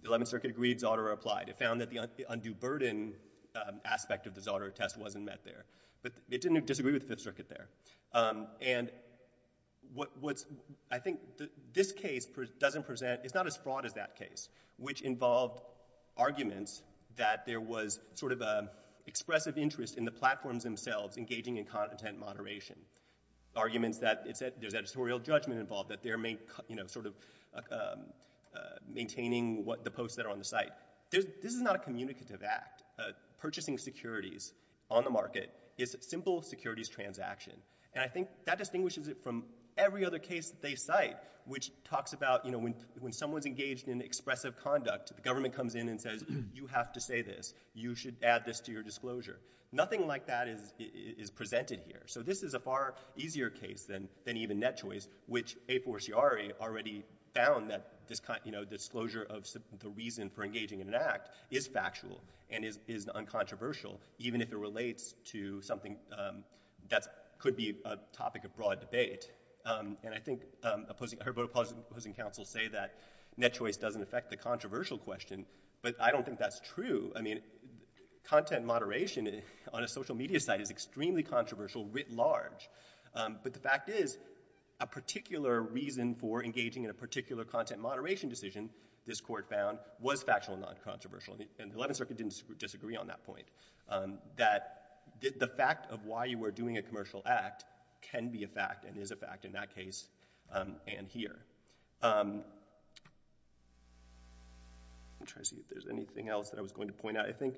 The Eleventh Circuit agreed Zotera applied. It found that the undue burden, um, aspect of the Zotera test wasn't met there, but it didn't disagree with the Fifth Circuit there. Um, and what, what's, I think this case doesn't present, it's not as fraught as that case, which involved arguments that there was sort of a expressive interest in the platforms themselves engaging in content moderation. Arguments that it said there's editorial judgment involved, that they're main, you know, sort of, uh, um, uh, maintaining what, the posts that are on the site. There's, this is not a communicative act. Uh, purchasing securities on the market is a simple securities transaction. And I think that distinguishes it from every other case that they cite, which talks about, you know, when, when someone's engaged in expressive conduct, the government comes in and says, you have to say this, you should add this to your disclosure. Nothing like that is, is, is presented here. So this is a far easier case than, than even Net Choice, which A4CRE already found that this kind, you know, disclosure of the reason for engaging in an act is factual and is, is uncontroversial, even if it relates to something, um, that's, could be a topic of broad debate. Um, and I think, um, opposing, Herbert Opposing Council say that Net Choice doesn't affect the controversial question, but I don't think that's true. I mean, content moderation on a social media site is extremely controversial writ large. Um, but the fact is, a particular reason for engaging in a particular content moderation decision, this court found, was factual and uncontroversial. And the 11th Circuit didn't disagree on that point, um, that the fact of why you were doing a commercial act can be a fact and is a fact in that case, um, and here. Um, I'm trying to see if there's anything else that I was going to point out. I think,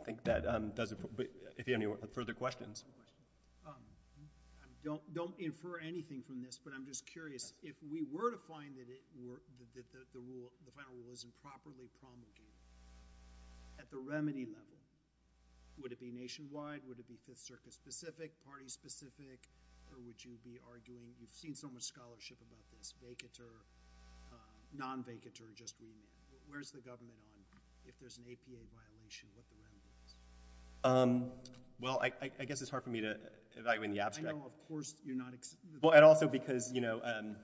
I think that, um, does it, but if you have any further questions. Um, I don't, don't infer anything from this, but I'm just curious, if we were to find that it were, that, that the rule, the final rule is improperly promulgated at the remedy level, would it be nationwide, would it be 5th Circuit specific, party specific, or would you be arguing, you've seen so much scholarship about this, vacater, uh, non-vacater just being, where's the government on, if there's an APA violation, what the remedy is? Um, well, I, I, I guess it's hard for me to evaluate in the abstract. I know, of course, you're not. Well, and also because, you know, um,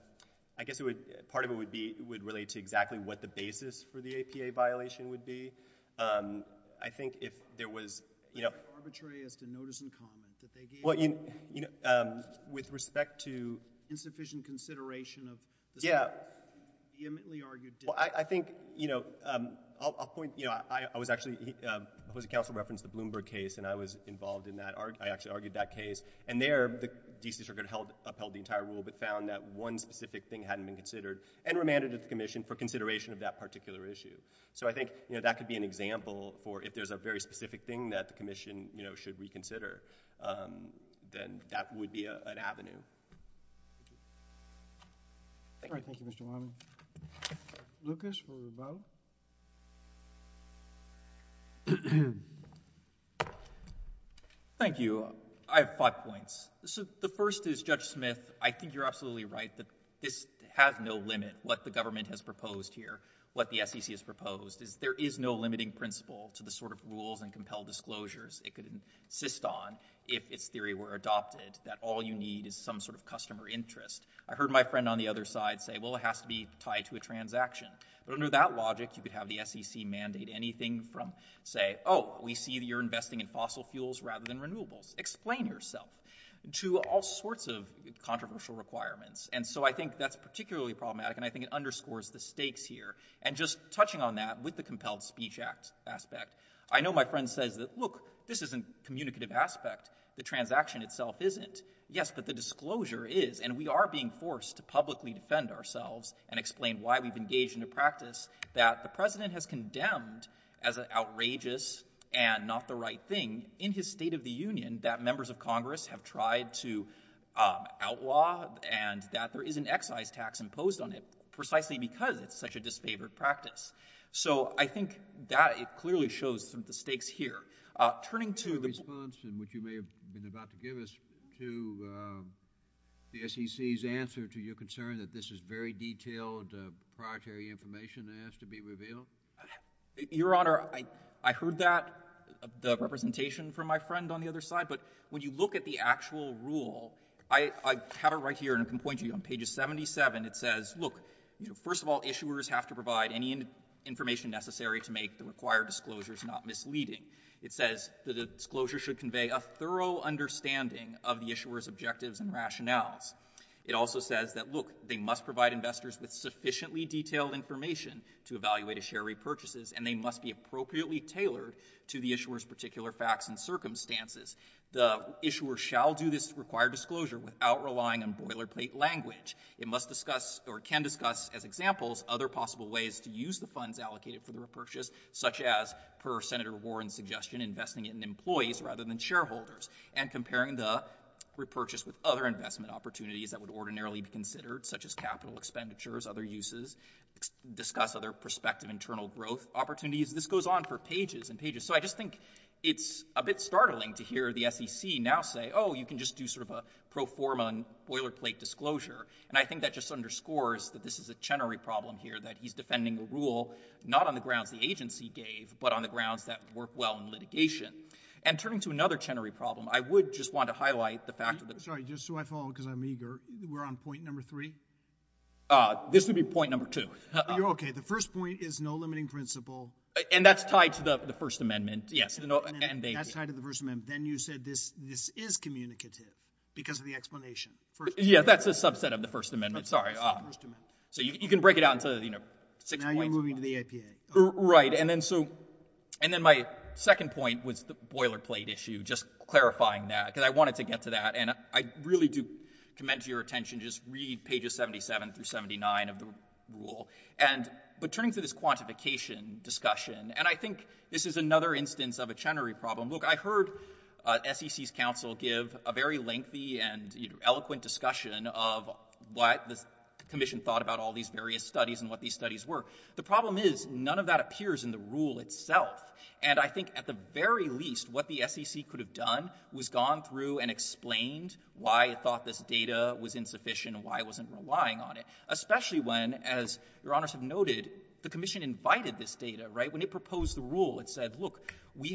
I guess it would, part of it would be, would relate to exactly what the basis for the APA violation would be. Um, I think if there was, you know... Arbitrary as to notice in common, that they gave... Well, you, you know, um, with respect to... Insufficient consideration of... Yeah.... vehemently argued... Well, I, I think, you know, um, I'll, I'll point, you know, I, I was actually, he, um, the Housing Council referenced the Bloomberg case, and I was involved in that, I actually argued that case, and there, the D.C. Circuit held, upheld the entire rule, but found that one specific thing hadn't been considered, and remanded it to the Commission for consideration of that particular issue. So, I think, you know, that could be an example for if there's a very specific thing that the Commission, you know, should reconsider, um, then that would be a, an avenue. Thank you. All right. Thank you, Mr. Wiley. Lucas for the vote. Thank you. I have five points. So, the first is, Judge Smith, I think you're absolutely right that this has no limit what the government has proposed here, what the SEC has proposed, is there is no limiting principle to the sort of rules and compelled disclosures it could insist on if its theory were adopted, that all you need is some sort of customer interest. I heard my friend on the other side say, well, it has to be tied to a transaction. But under that logic, you could have the SEC mandate anything from, say, oh, we see that you're investing in fossil fuels rather than renewables. Explain yourself to all sorts of controversial requirements. And so I think that's particularly problematic, and I think it underscores the stakes here. And just touching on that with the Compelled Speech Act aspect, I know my friend says that, look, this isn't a communicative aspect. The transaction itself isn't. Yes, but the disclosure is. And we are being forced to publicly defend ourselves and explain why we've engaged in a practice that the President has condemned as an outrageous and not the right thing in his State of the Union that members of Congress have tried to outlaw and that there is an excise tax imposed on it precisely because it's such a disfavored practice. So I think that it clearly shows some of the stakes here. Turning to the— Your response, which you may have been about to give us, to the SEC's answer to your concern that this is very detailed, proprietary information that has to be revealed? Your Honor, I heard that, the representation from my friend on the other side, but when you look at the actual rule, I have it right here, and I can point to you. On page 77, it says, look, first of all, issuers have to provide any information necessary to make the required disclosures not misleading. It says the disclosure should convey a thorough understanding of the issuer's objectives and rationales. It also says that, look, they must provide investors with sufficiently detailed information to evaluate a share repurchase, and they must be appropriately tailored to the issuer's particular facts and circumstances. The issuer shall do this required disclosure without relying on boilerplate language. It must discuss or can discuss as examples other possible ways to use the funds allocated for the repurchase, such as, per Senator Warren's suggestion, investing it in employees rather than shareholders, and comparing the repurchase with other investment opportunities that would ordinarily be considered, such as capital expenditures, other uses, discuss other prospective internal growth opportunities. This goes on for pages and pages, so I just think it's a bit startling to hear the SEC now say, oh, you can just do sort of a pro forma and boilerplate disclosure, and I think that just underscores that this is a Chenery problem here, that he's defending the rule not on the grounds the agency gave, but on the grounds that work well in litigation. And turning to another Chenery problem, I would just want to highlight the fact that Sorry, just so I follow, because I'm eager, we're on point number three? This would be point number two. Okay, the first point is no limiting principle. And that's tied to the First Amendment, yes. That's tied to the First Amendment. Then you said this is communicative because of the explanation. Yeah, that's a subset of the First Amendment, sorry. So you can break it down to six points. Now you're moving to the APA. Right, and then my second point was the boilerplate issue, just clarifying that, because I wanted to get to that, and I really do commend your attention. Just read pages 77 through 79 of the rule. But turning to this quantification discussion, and I think this is another instance of a Chenery problem. Look, I heard SEC's counsel give a very lengthy and eloquent discussion of what the Commission thought about all these various studies and what these studies were. The problem is none of that appears in the rule itself, and I think at the very least what the SEC could have done was gone through and explained why it thought this data was insufficient and why it wasn't relying on it. Especially when, as Your Honors have noted, the Commission invited this data, right? When it proposed the rule, it said, look, we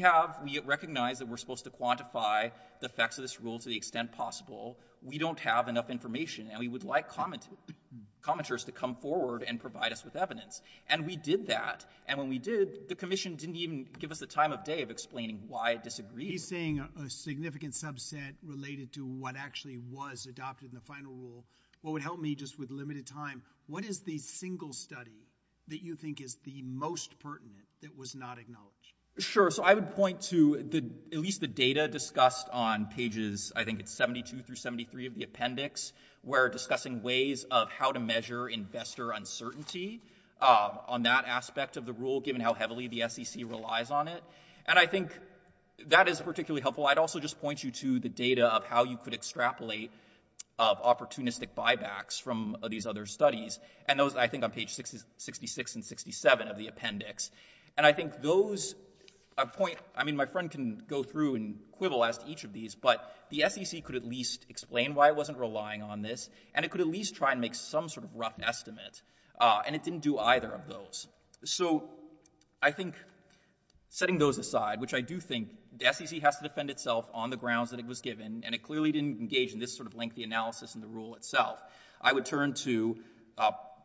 recognize that we're supposed to quantify the effects of this rule to the extent possible. We don't have enough information, and we would like commenters to come forward and provide us with evidence. And we did that, and when we did, the Commission didn't even give us the time of day of explaining why it disagreed. He's saying a significant subset related to what actually was adopted in the final rule. What would help me just with limited time, what is the single study that you think is the most pertinent that was not acknowledged? Sure. So I would point to at least the data discussed on pages, I think it's 72 through 73 of the appendix, where discussing ways of how to measure investor uncertainty on that aspect of the rule, given how heavily the SEC relies on it. And I think that is particularly helpful. I'd also just point you to the data of how you could extrapolate opportunistic buybacks from these other studies, and those, I think, on pages 66 and 67 of the appendix. And I think those point, I mean, my friend can go through and quibble as to each of these, but the SEC could at least explain why it wasn't relying on this, and it could at least try and make some sort of rough estimate. And it didn't do either of those. So I think setting those aside, which I do think the SEC has to defend itself on the grounds that it was given, and it clearly didn't engage in this sort of lengthy analysis in the rule itself, I would turn to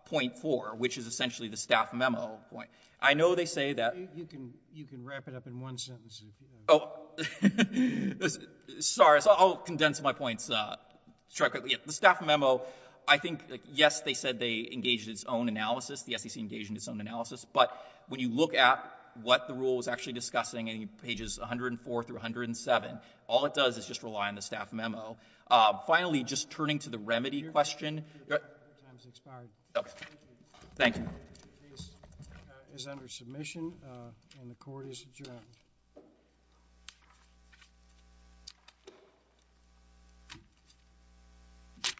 point four, which is essentially the staff memo point. I know they say that— You can wrap it up in one sentence. Oh, sorry, I'll condense my points. The staff memo, I think, yes, they said they engaged in its own analysis. The SEC engaged in its own analysis. But when you look at what the rule was actually discussing in pages 104 through 107, all it does is just rely on the staff memo. Finally, just turning to the remedy question— Your time has expired. Thank you. The case is under submission, and the Court is adjourned.